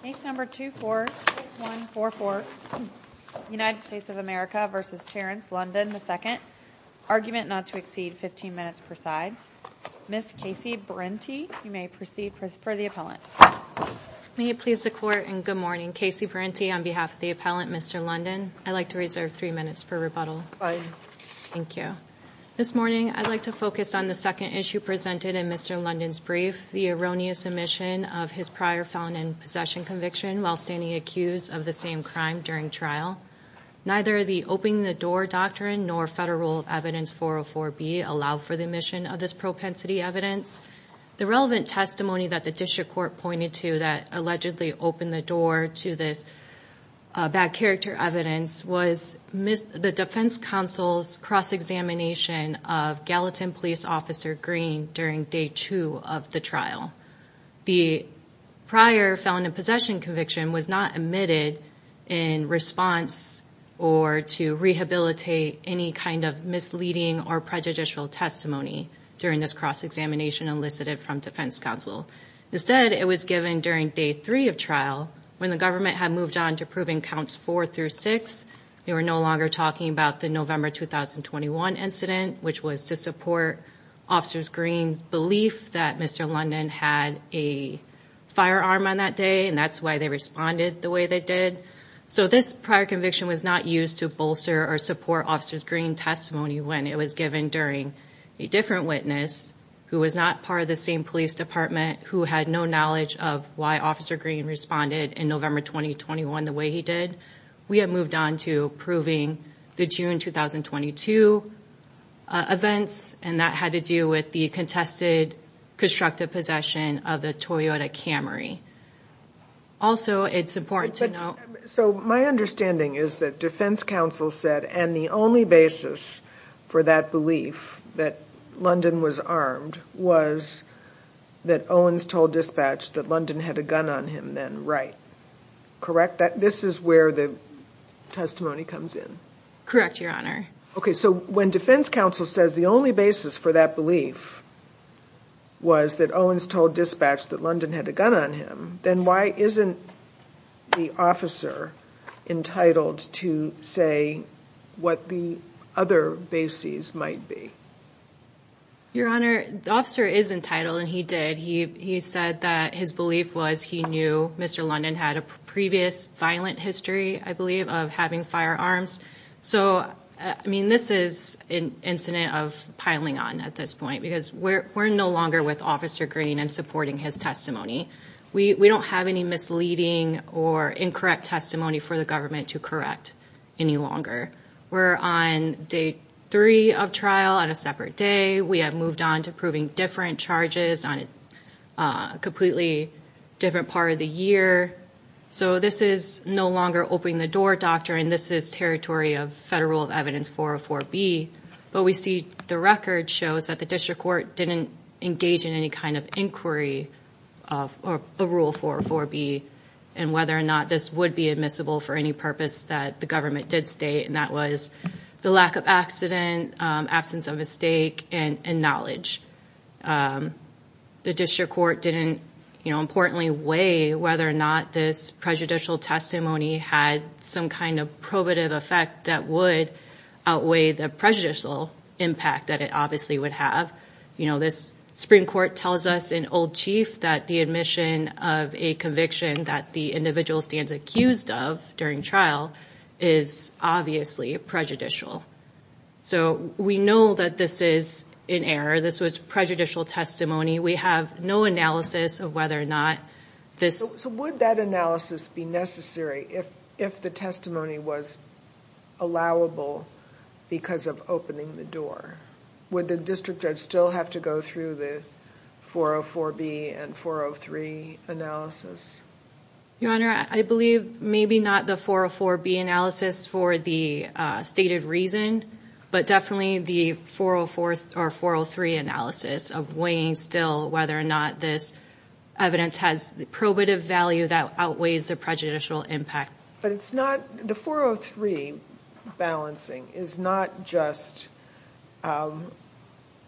Case No. 2 for Case 144, United States of America v. Terrence London II Argument not to exceed 15 minutes per side Ms. Casey Brinty, you may proceed for the appellant May it please the Court and good morning Casey Brinty on behalf of the appellant, Mr. London I'd like to reserve three minutes for rebuttal Fine Thank you This morning, I'd like to focus on the second issue presented in Mr. London's brief The erroneous omission of his prior felon and possession conviction While standing accused of the same crime during trial Neither the Open the Door Doctrine nor Federal Evidence 404-B Allow for the omission of this propensity evidence The relevant testimony that the District Court pointed to That allegedly opened the door to this bad character evidence Was the Defense Counsel's cross-examination of Gallatin Police Officer Green During Day 2 of the trial The prior felon and possession conviction was not omitted in response Or to rehabilitate any kind of misleading or prejudicial testimony During this cross-examination elicited from Defense Counsel Instead, it was given during Day 3 of trial When the government had moved on to approving Counts 4 through 6 They were no longer talking about the November 2021 incident Which was to support Officer Green's belief that Mr. London had a firearm on that day And that's why they responded the way they did So this prior conviction was not used to bolster or support Officer Green's testimony When it was given during a different witness Who was not part of the same police department Who had no knowledge of why Officer Green responded in November 2021 the way he did We have moved on to approving the June 2022 events And that had to do with the contested constructive possession of the Toyota Camry Also, it's important to know So my understanding is that Defense Counsel said And the only basis for that belief that London was armed Was that Owens told dispatch that London had a gun on him then, right? Correct that this is where the testimony comes in Correct, Your Honor Okay, so when Defense Counsel says the only basis for that belief Was that Owens told dispatch that London had a gun on him Then why isn't the officer entitled to say what the other bases might be? Your Honor, the officer is entitled and he did He said that his belief was he knew Mr. London had a previous violent history I believe of having firearms So, I mean, this is an incident of piling on at this point Because we're no longer with Officer Green and supporting his testimony We don't have any misleading or incorrect testimony for the government to correct any longer We're on day three of trial on a separate day We have moved on to proving different charges on a completely different part of the year So this is no longer opening the door, Doctor And this is territory of Federal Rule of Evidence 404B But we see the record shows that the District Court didn't engage in any kind of inquiry of Rule 404B And whether or not this would be admissible for any purpose that the government did state And that was the lack of accident, absence of a stake and knowledge The District Court didn't, you know, importantly weigh Whether or not this prejudicial testimony had some kind of probative effect That would outweigh the prejudicial impact that it obviously would have You know, this Supreme Court tells us in Old Chief That the admission of a conviction that the individual stands accused of during trial Is obviously prejudicial So we know that this is an error, this was prejudicial testimony We have no analysis of whether or not this... So would that analysis be necessary if the testimony was allowable because of opening the door? Would the District Judge still have to go through the 404B and 403 analysis? Your Honor, I believe maybe not the 404B analysis for the stated reason But definitely the 404 or 403 analysis of weighing still Whether or not this evidence has probative value that outweighs the prejudicial impact But it's not, the 403 balancing is not just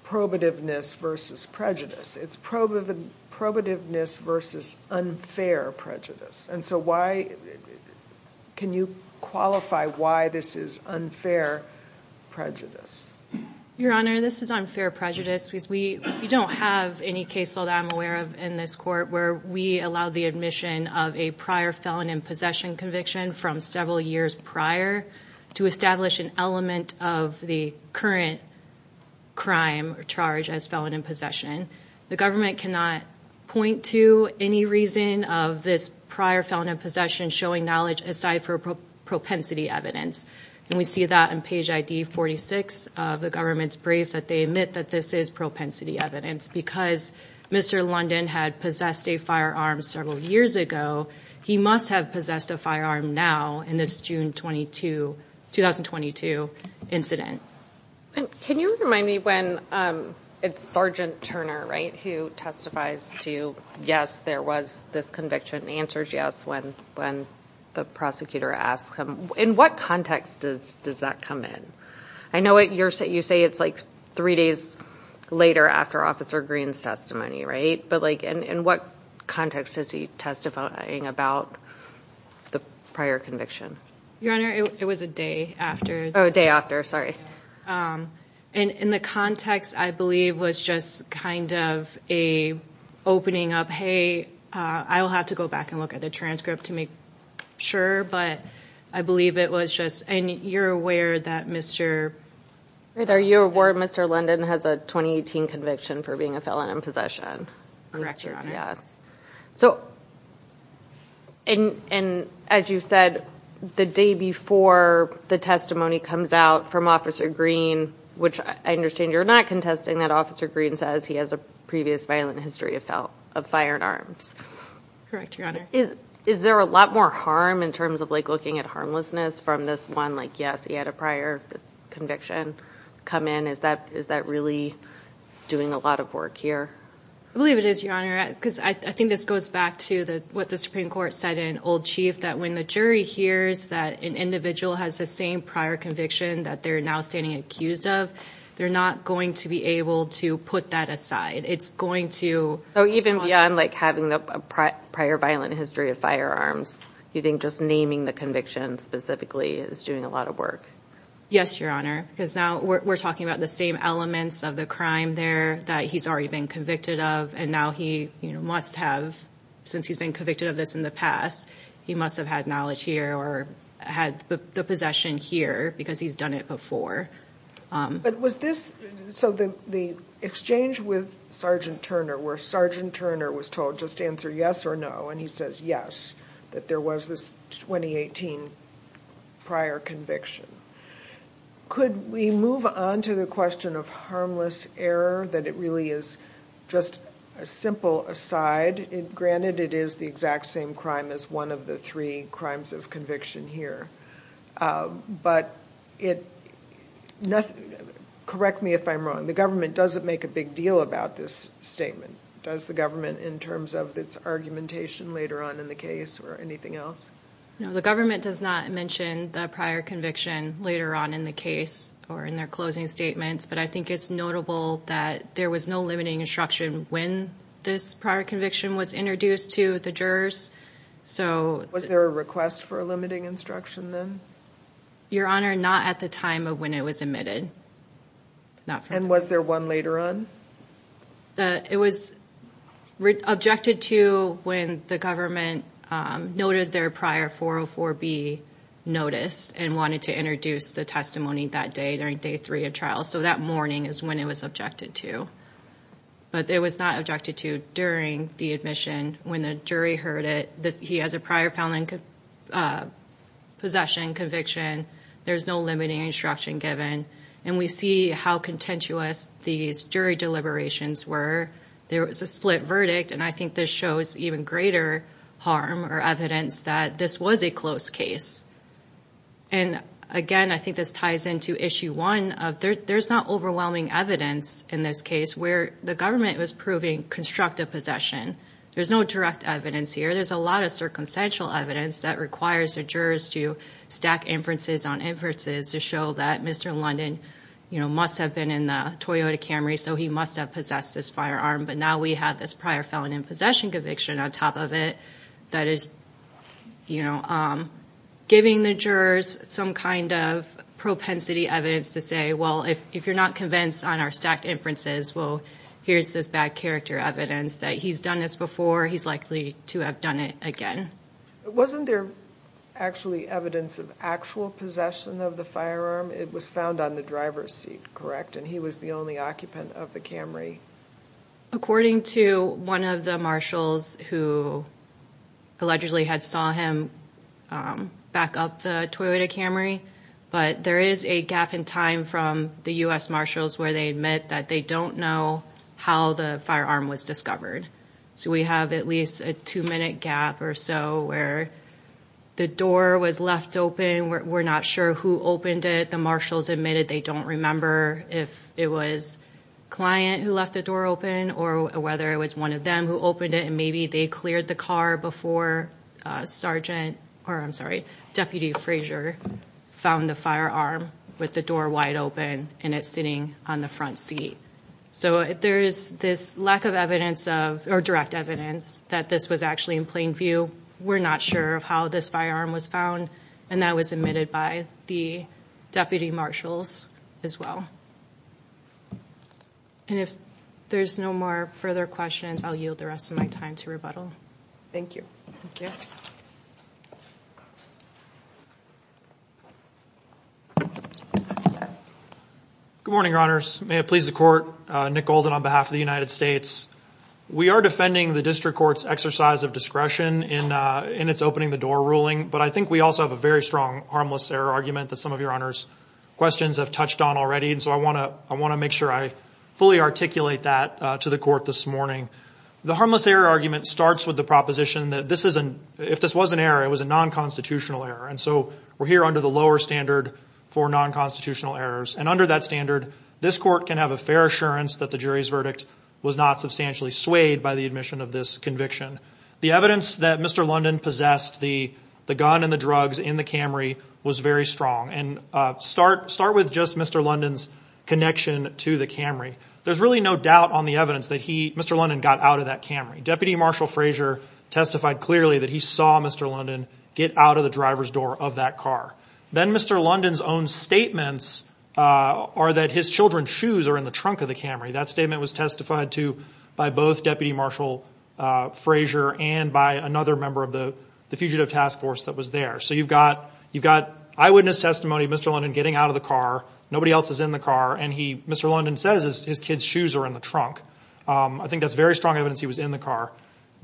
probativeness versus prejudice It's probativeness versus unfair prejudice And so why, can you qualify why this is unfair prejudice? Your Honor, this is unfair prejudice Because we don't have any case law that I'm aware of in this court Where we allow the admission of a prior felon in possession conviction From several years prior To establish an element of the current crime or charge as felon in possession The government cannot point to any reason of this prior felon in possession Showing knowledge aside from propensity evidence And we see that in page ID 46 of the government's brief That they admit that this is propensity evidence Because Mr. London had possessed a firearm several years ago He must have possessed a firearm now in this June 22, 2022 incident Can you remind me when, it's Sergeant Turner, right? Who testifies to yes, there was this conviction And answers yes when the prosecutor asks him In what context does that come in? I know you say it's like three days later after Officer Green's testimony, right? In what context is he testifying about the prior conviction? Your Honor, it was a day after Oh, a day after, sorry And in the context I believe was just kind of a opening up Hey, I'll have to go back and look at the transcript to make sure But I believe it was just, and you're aware that Mr. Are you aware that Mr. London has a 2018 conviction for being a felon in possession? Correct, Your Honor So, and as you said, the day before the testimony comes out from Officer Green Which I understand you're not contesting that Officer Green says He has a previous violent history of firearms Correct, Your Honor Is there a lot more harm in terms of like looking at harmlessness from this one Like yes, he had a prior conviction come in Is that really doing a lot of work here? I believe it is, Your Honor Because I think this goes back to what the Supreme Court said in Old Chief That when the jury hears that an individual has the same prior conviction That they're now standing accused of They're not going to be able to put that aside It's going to So even beyond like having a prior violent history of firearms Do you think just naming the conviction specifically is doing a lot of work? Yes, Your Honor Because now we're talking about the same elements of the crime there That he's already been convicted of And now he must have Since he's been convicted of this in the past He must have had knowledge here Or had the possession here Because he's done it before But was this So the exchange with Sergeant Turner Where Sergeant Turner was told just answer yes or no And he says yes That there was this 2018 prior conviction Could we move on to the question of harmless error That it really is just a simple aside Granted it is the exact same crime as one of the three crimes of conviction here But it Correct me if I'm wrong The government doesn't make a big deal about this statement Does the government in terms of its argumentation later on in the case Or anything else? No, the government does not mention the prior conviction later on in the case Or in their closing statements But I think it's notable that there was no limiting instruction When this prior conviction was introduced to the jurors So Was there a request for a limiting instruction then? Your Honor, not at the time of when it was admitted And was there one later on? It was Objected to when the government Noted their prior 404B notice And wanted to introduce the testimony that day during day three of trial So that morning is when it was objected to But it was not objected to during the admission When the jury heard it He has a prior felony Possession conviction There's no limiting instruction given And we see how contentious these jury deliberations were There was a split verdict And I think this shows even greater harm Or evidence that this was a close case And again, I think this ties into issue one There's not overwhelming evidence in this case Where the government was proving constructive possession There's no direct evidence here There's a lot of circumstantial evidence That requires the jurors to Stack inferences on inferences To show that Mr. London Must have been in the Toyota Camry So he must have possessed this firearm But now we have this prior felony Possession conviction on top of it That is Giving the jurors Some kind of propensity evidence To say, well, if you're not convinced On our stacked inferences Well, here's this bad character evidence That he's done this before He's likely to have done it again Wasn't there actually evidence Of actual possession of the firearm? It was found on the driver's seat, correct? And he was the only occupant Of the Camry According to one of the marshals Who allegedly had Saw him Back up the Toyota Camry But there is a gap in time From the U.S. marshals Where they admit that they don't know How the firearm was discovered So we have at least a two minute Gap or so where The door was left open We're not sure who opened it The marshals admitted they don't remember If it was A client who left the door open Or whether it was one of them who opened it And maybe they cleared the car before Deputy Frazier Found the firearm With the door wide open And it sitting on the front seat So there is This lack of evidence Or direct evidence That this was actually in plain view We're not sure of how this firearm was found And that was admitted by the Deputy marshals as well And if there's no more further questions I'll yield the rest of my time to rebuttal Thank you Good morning your honors May it please the court, Nick Golden on behalf of the United States We are defending The district courts exercise of discretion In it's opening the door ruling But I think we also have a very strong Harmless error argument that some of your honors Questions have touched on already And so I want to make sure I Fully articulate that to the court this morning The harmless error argument starts With the proposition that this isn't If this was an error it was a non-constitutional error And so we're here under the lower standard For non-constitutional errors And under that standard this court can have A fair assurance that the jury's verdict Was not substantially swayed by the admission Of this conviction The evidence that Mr. London possessed The gun and the drugs In the Camry was very strong And start with just Mr. London's Connection to the Camry There's really no doubt on the evidence That Mr. London got out of that Camry Deputy Marshal Frazier testified clearly That he saw Mr. London get out Of the driver's door of that car Then Mr. London's own statements Are that his children's shoes Are in the trunk of the Camry That statement was testified to by both Deputy Marshal Frazier And by another member of the Fugitive Task Force that was there So you've got eyewitness testimony Mr. London getting out of the car Nobody else is in the car And Mr. London says his kids shoes are in the trunk I think that's very strong evidence he was in the car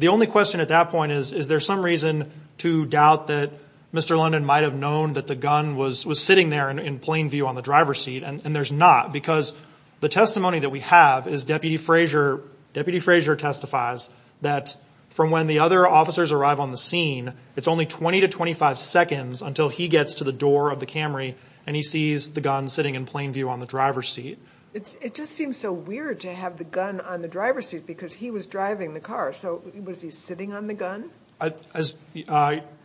The only question at that point is Is there some reason to doubt That Mr. London might have known That the gun was sitting there In plain view on the driver's seat And there's not because the testimony That we have is Deputy Frazier Deputy Frazier testifies That from when the other officers Arrive on the scene It's only 20 to 25 seconds Until he gets to the door of the Camry And he sees the gun sitting in plain view on the driver's seat It just seems so weird To have the gun on the driver's seat Because he was driving the car So was he sitting on the gun?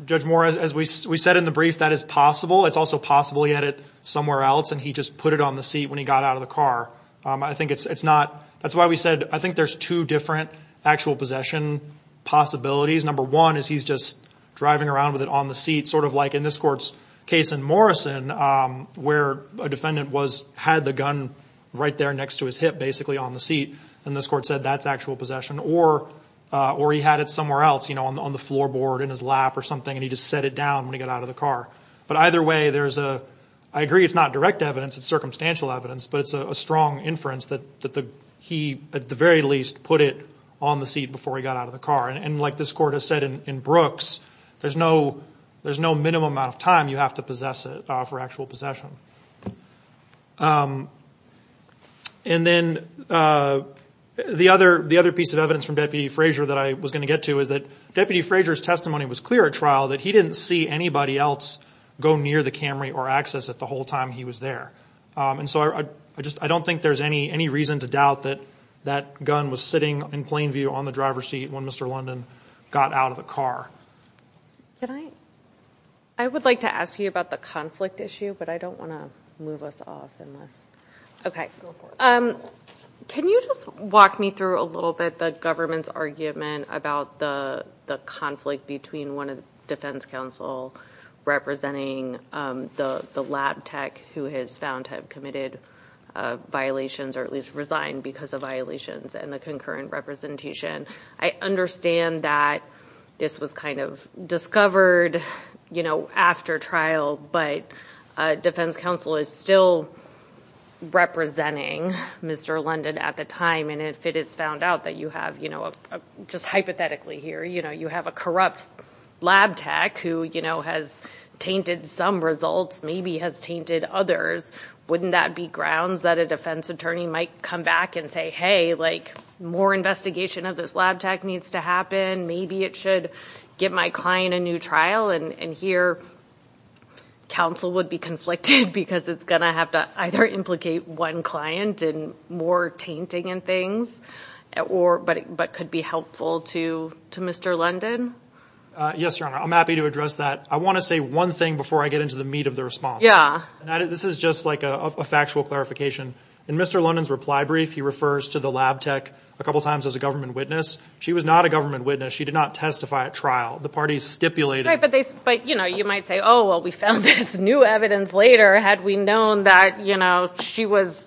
Judge Moore as we said In the brief that is possible It's also possible he had it somewhere else And he just put it on the seat when he got out of the car I think it's not That's why we said I think there's two different Actual possession possibilities Number one is he's just driving around With it on the seat Sort of like in this court's case in Morrison Where a defendant was Had the gun right there next to his hip Basically on the seat And this court said that's actual possession Or he had it somewhere else On the floor board in his lap Or something and he just set it down When he got out of the car But either way I agree it's not direct evidence It's circumstantial evidence But it's a strong inference That he at the very least Put it on the seat before he got out of the car And like this court has said in Brooks There's no minimum amount of time You have to possess it For actual possession And then The other piece of evidence From Deputy Frazier That I was going to get to Was that Deputy Frazier's testimony Was clear at trial that he didn't see Anybody else go near the Camry Or access it the whole time he was there And so I don't think there's Any reason to doubt that That gun was sitting in plain view On the driver's seat when Mr. London Got out of the car I would like to ask you About the conflict issue But I don't want to move us off Okay Can you just walk me through A little bit the government's argument About the conflict Between one defense counsel Representing The lab tech who has found Have committed Violations or at least resigned because of Violations and the concurrent representation I understand that This was kind of discovered You know After trial but Defense counsel is still Representing Mr. London At the time and if it is found out That you have Just hypothetically here You have a corrupt lab tech Who has tainted some results Maybe has tainted others Wouldn't that be grounds that a defense attorney Might come back and say More investigation of this lab tech Needs to happen Maybe it should give my client a new trial And here Counsel would be conflicted Because it's going to have to Either implicate one client In more tainting and things But could be helpful To Mr. London Yes your honor I'm happy to address that I want to say one thing before I get Into the meat of the response This is just like a factual clarification In Mr. London's reply brief He refers to the lab tech a couple times As a government witness She was not a government witness She did not testify at trial The parties stipulated But you know you might say Oh well we found this new evidence later Had we known that She was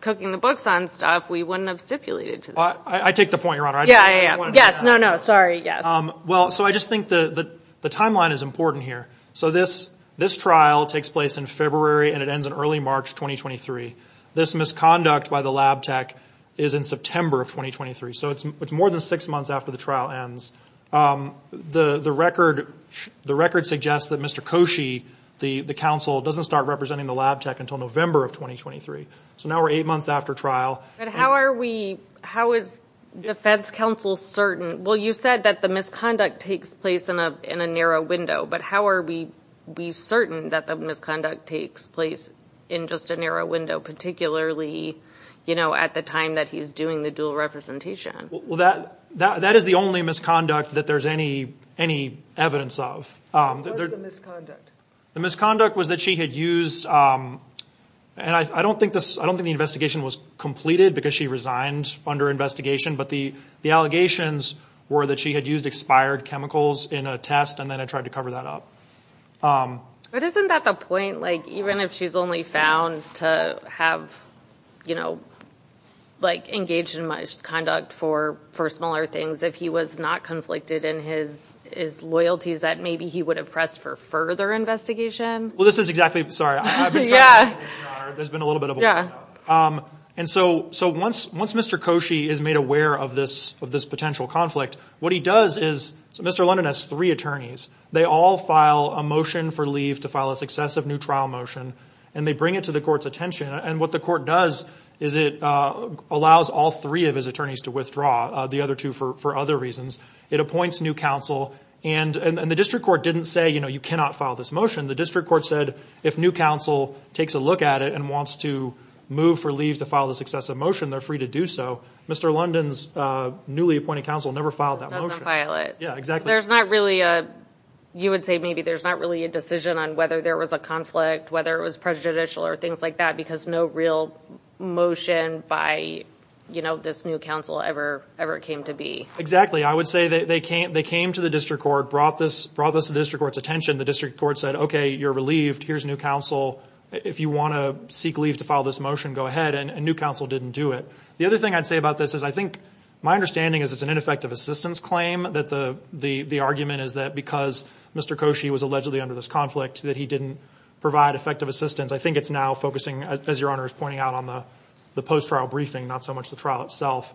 cooking the books on stuff We wouldn't have stipulated I take the point your honor Yes no no sorry So I just think the timeline is important here So this trial Takes place in February And it ends in early March 2023 This misconduct by the lab tech Is in September of 2023 So it's more than 6 months after the trial ends The record Suggests that Mr. Koshy The counsel Doesn't start representing the lab tech Until November of 2023 So now we're 8 months after trial But how are we How is defense counsel certain Well you said that the misconduct Takes place in a narrow window But how are we certain That the misconduct takes place In just a narrow window Particularly at the time That he's doing the dual representation Well that is the only misconduct That there's any Evidence of What is the misconduct The misconduct was that she had used I don't think the investigation was Completed because she resigned Under investigation But the allegations were that she had used Expired chemicals in a test And then had tried to cover that up But isn't that the point Even if she's only found To have You know Engaged in misconduct For smaller things If he was not conflicted In his loyalties That maybe he would have pressed For further investigation Well this is exactly Sorry Once Mr. Koshy Is made aware of this Potential conflict What he does is Mr. London has three attorneys They all file a motion for leave To file a successive new trial motion And they bring it to the court's attention And what the court does Is it allows all three of his attorneys To withdraw the other two for other reasons It appoints new counsel And the district court didn't say You cannot file this motion The district court said If new counsel takes a look at it And wants to move for leave To file a successive motion They're free to do so Mr. London's newly appointed counsel Never filed that motion You would say Maybe there's not really a decision On whether there was a conflict Whether it was prejudicial Or things like that Because no real motion By this new counsel ever came to be Exactly I would say They came to the district court Brought this to the district court's attention The district court said Okay, you're relieved Here's new counsel If you want to seek leave To file this motion Go ahead And new counsel didn't do it The other thing I'd say about this Is I think My understanding is It's an ineffective assistance claim That the argument is That because Mr. Koshy Was allegedly under this conflict That he didn't provide effective assistance I think it's now focusing As your honor is pointing out On the post-trial briefing Not so much the trial itself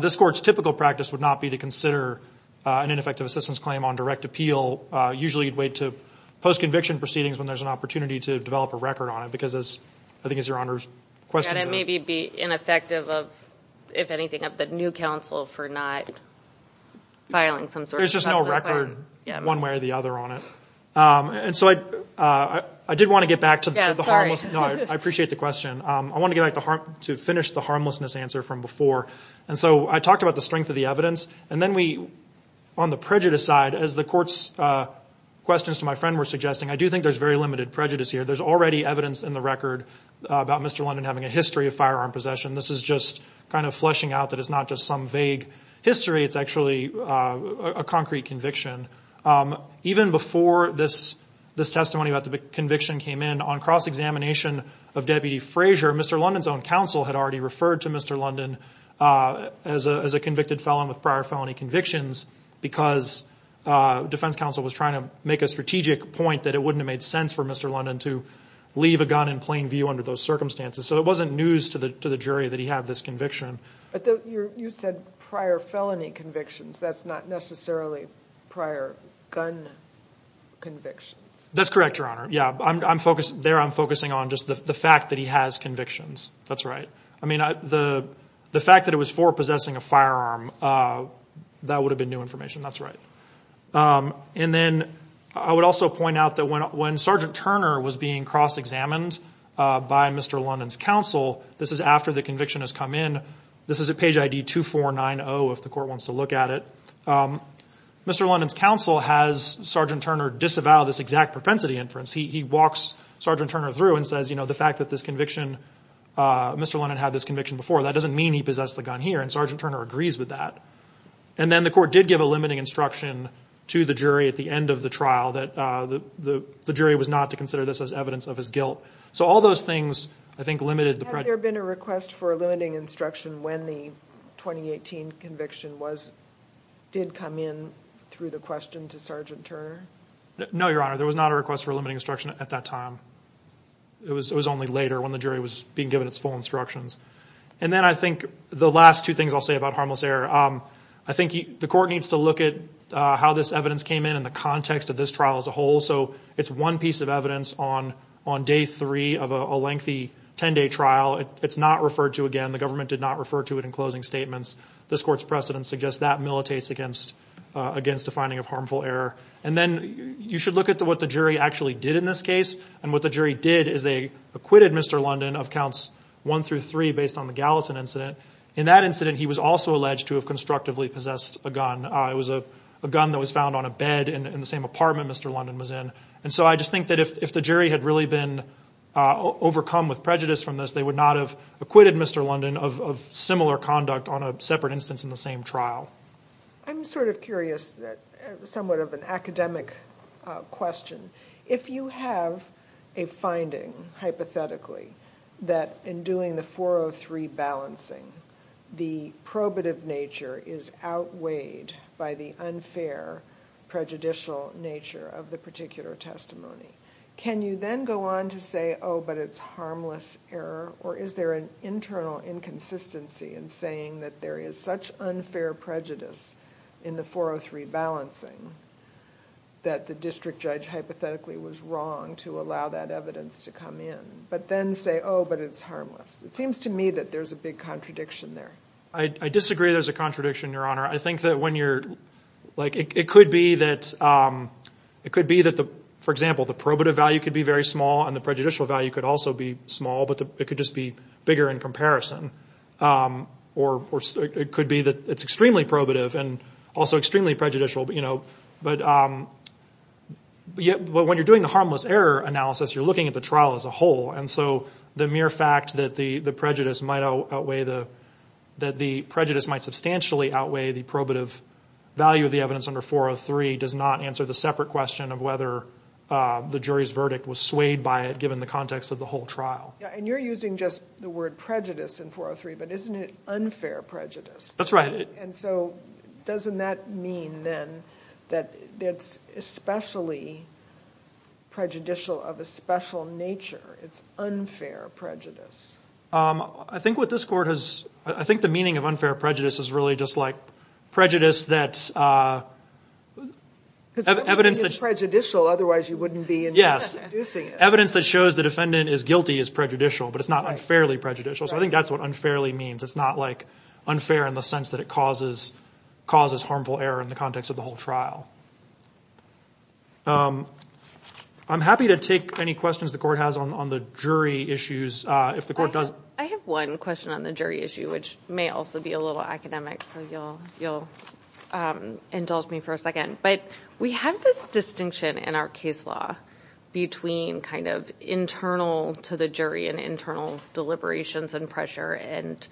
This court's typical practice Would not be to consider An ineffective assistance claim On direct appeal Usually you'd wait to Post-conviction proceedings When there's an opportunity To develop a record on it Because as I think Your honor's question It may be ineffective Of the new counsel For not filing There's just no record One way or the other I did want to get back I appreciate the question To finish the harmlessness answer From before I talked about the strength of the evidence On the prejudice side As the court's questions to my friend Were suggesting I do think there's very limited prejudice here There's already evidence in the record About Mr. London having a history of firearm possession This is just kind of fleshing out That it's not just some vague history It's actually a concrete conviction Even before This testimony about the conviction Came in on cross-examination Of Deputy Frazier Mr. London's own counsel had already referred to Mr. London As a convicted felon With prior felony convictions Because defense counsel Was trying to make a strategic point That it wouldn't have made sense for Mr. London To leave a gun in plain view under those circumstances So it wasn't news to the jury That he had this conviction You said prior felony convictions That's not necessarily Prior gun convictions That's correct, your honor There I'm focusing on The fact that he has convictions That's right The fact that it was for possessing a firearm That would have been new information That's right I would also point out When Sgt. Turner was being cross-examined By Mr. London's counsel This is after the conviction has come in This is at page ID 2490 If the court wants to look at it Mr. London's counsel Has Sgt. Turner disavow This exact propensity inference He walks Sgt. Turner through And says the fact that Mr. London had this conviction before That doesn't mean he possessed the gun here And Sgt. Turner agrees with that And then the court did give a limiting instruction To the jury at the end of the trial That the jury was not to consider This as evidence of his guilt So all those things I think limited Had there been a request for a limiting instruction When the 2018 conviction Did come in Through the question to Sgt. Turner No, your honor There was not a request for a limiting instruction at that time It was only later When the jury was being given its full instructions And then I think The last two things I'll say about harmless error I think the court needs to look at How this evidence came in In the context of this trial as a whole So it's one piece of evidence On day three of a lengthy Ten day trial It's not referred to again The government did not refer to it in closing statements This court's precedent suggests That militates against a finding of harmful error And then you should look at what the jury actually did In this case And what the jury did Is they acquitted Mr. London Of counts one through three Based on the Gallatin incident In that incident he was also alleged To have constructively possessed a gun It was a gun that was found on a bed In the same apartment Mr. London was in And so I just think that If the jury had really been overcome With prejudice from this They would not have acquitted Mr. London Of similar conduct on a separate instance In the same trial I'm sort of curious Somewhat of an academic Question If you have a finding Hypothetically That in doing the 403 balancing The probative nature Is outweighed By the unfair Prejudicial nature of the particular Testimony Can you then go on to say Oh but it's harmless error Or is there an internal inconsistency In saying that there is such Unfair prejudice In the 403 balancing That the district judge Hypothetically was wrong To allow that evidence to come in But then say oh but it's harmless It seems to me that there's a big contradiction there I disagree there's a contradiction your honor I think that when you're It could be that For example The probative value could be very small And the prejudicial value could also be small But it could just be bigger in comparison Or It could be that it's extremely probative And also extremely prejudicial But When you're doing the harmless error Analysis you're looking at the trial as a whole And so the mere fact that The prejudice might outweigh That the prejudice might substantially Outweigh the probative Value of the evidence under 403 Does not answer the separate question of whether The jury's verdict was swayed by it In the context of the whole trial And you're using just the word prejudice in 403 But isn't it unfair prejudice That's right And so doesn't that mean then That it's especially Prejudicial Of a special nature It's unfair prejudice I think what this court has I think the meaning of unfair prejudice is really just like Prejudice that Evidence Prejudicial otherwise you wouldn't be Yes Evidence that shows the defendant is guilty is prejudicial But it's not unfairly prejudicial So I think that's what unfairly means It's not like unfair in the sense that it causes Harmful error in the context of the whole trial I'm happy to take Any questions the court has on the jury Issues I have one question on the jury issue Which may also be a little academic So you'll indulge me For a second But we have this distinction In our case law Between kind of internal To the jury And internal deliberations And pressure And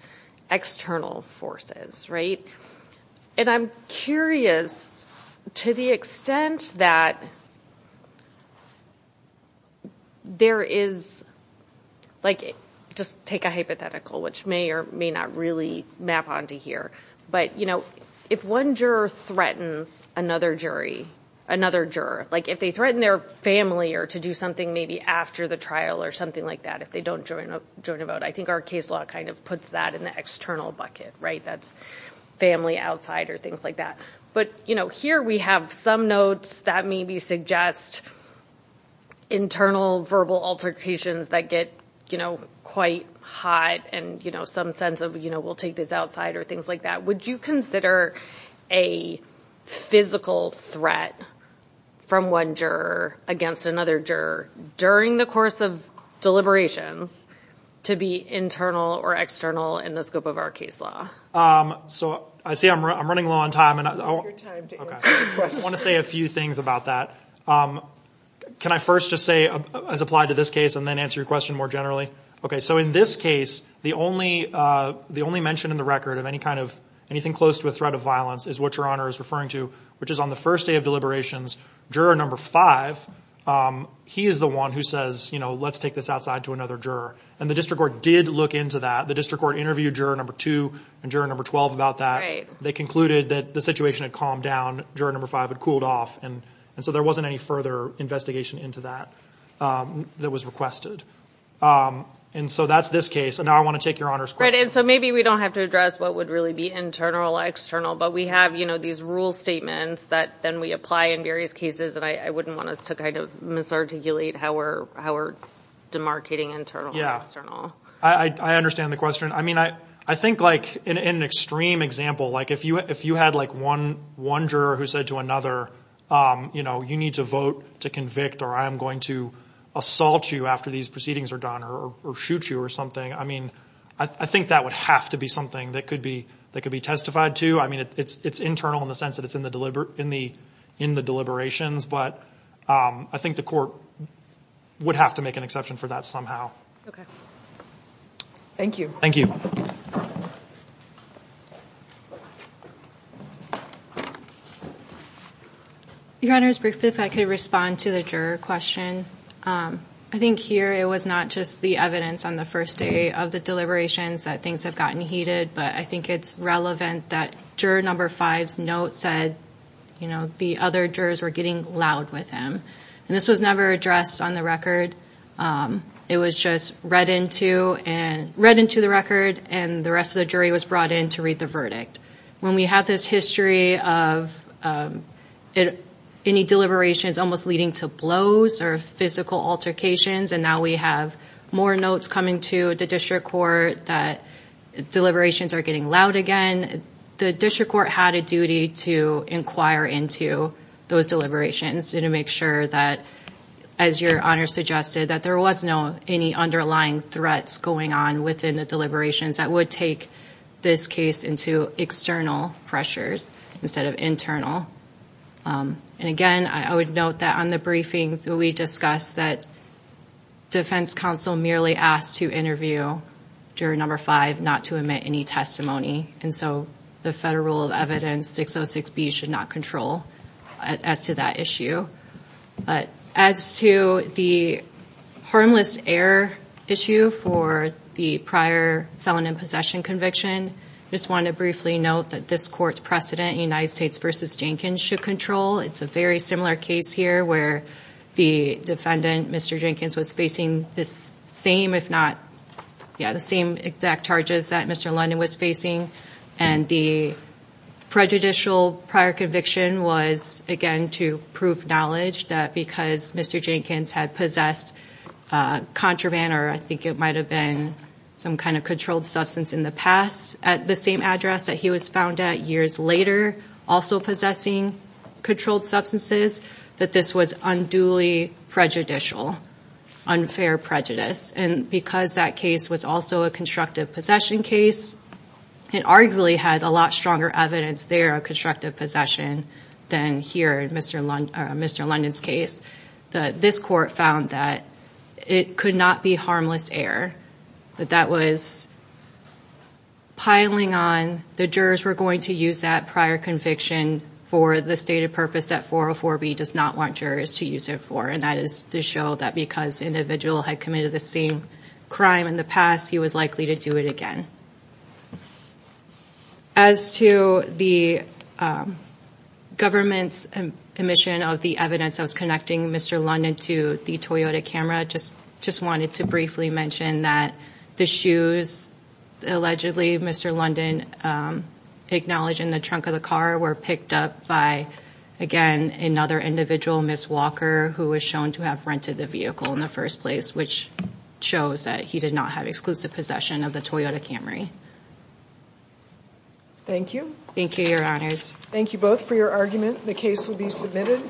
external forces And I'm curious To the extent that There is Like Just take a hypothetical Which may or may not really Map onto here But you know If one juror threatens another jury Another juror Like if they threaten their family Or to do something maybe after the trial Or something like that If they don't join a vote I think our case law kind of puts that In the external bucket That's family outside or things like that But here we have some notes That maybe suggest Internal verbal altercations That get quite hot And some sense of We'll take this outside or things like that Would you consider a Physical threat From one juror against another juror During the course of Deliberations To be internal or external In the scope of our case law I see I'm running low on time I want to say A few things about that Can I first just say As applied to this case and then answer your question more generally So in this case The only mention in the record Of anything close to a threat of violence Is what your honor is referring to Which is on the first day of deliberations Juror number 5 He is the one who says Let's take this outside to another juror And the district court did look into that The district court interviewed juror number 2 And juror number 12 about that They concluded that the situation had calmed down Juror number 5 had cooled off And so there wasn't any further investigation into that That was requested And so that's this case And now I want to take your honor's question So maybe we don't have to address what would really be internal or external But we have these rule statements That then we apply in various cases And I wouldn't want us to kind of Misarticulate how we're Demarcating internal or external I understand the question I think like in an extreme Example like if you had One juror who said to another You know you need to vote To convict or I am going to Assault you after these proceedings are done Or shoot you or something I think that would have to be something That could be testified to It's internal in the sense that it's in the In the deliberations But I think the court Would have to make an exception For that somehow Thank you Your honor Your honor if I could respond To the juror question I think here it was not just The evidence on the first day of the Deliberations that things have gotten heated But I think it's relevant that Juror number five's note said You know the other jurors were Getting loud with him And this was never addressed on the record It was just read into And read into the record And the rest of the jury was brought in to read the verdict When we have this history Of Any deliberations almost leading To blows or physical altercations And now we have More notes coming to the district court That deliberations are getting Loud again The district court had a duty to Inquire into those deliberations To make sure that As your honor suggested that there was No any underlying threats Going on within the deliberations That would take this case Into external pressures Instead of internal And again I would note that On the briefing we discussed that Defense counsel merely Asked to interview Juror number five not to admit any testimony And so the federal rule Of evidence 606B should not control As to that issue As to The harmless error Issue for the Prior felon in possession conviction I just want to briefly note That this court's precedent United States vs. Jenkins should control It's a very similar case here where The defendant Mr. Jenkins was Facing the same if not Yeah the same exact Charges that Mr. London was facing And the Prejudicial prior conviction was Again to prove knowledge That because Mr. Jenkins had possessed Contraband Or I think it might have been Some kind of controlled substance in the past At the same address that he was found at Years later also possessing Controlled substances That this was unduly Prejudicial Unfair prejudice and because That case was also a constructive Possession case It arguably had a lot stronger evidence there Of constructive possession Than here in Mr. London's Case This court found that It could not be harmless error That that was Piling on The jurors were going to use that prior Conviction for the stated purpose That 404B does not want jurors To use it for and that is to show That because the individual had committed the same Crime in the past he was likely To do it again As to The Government's admission of The evidence that was connecting Mr. London To the Toyota Camry Just wanted to briefly mention that The shoes Allegedly Mr. London Acknowledged in the trunk of the car Were picked up by Again another individual Ms. Walker Who was shown to have rented the vehicle In the first place which Shows that he did not have exclusive possession Of the Toyota Camry Thank you Thank you your honors Thank you both for your argument The case will be submitted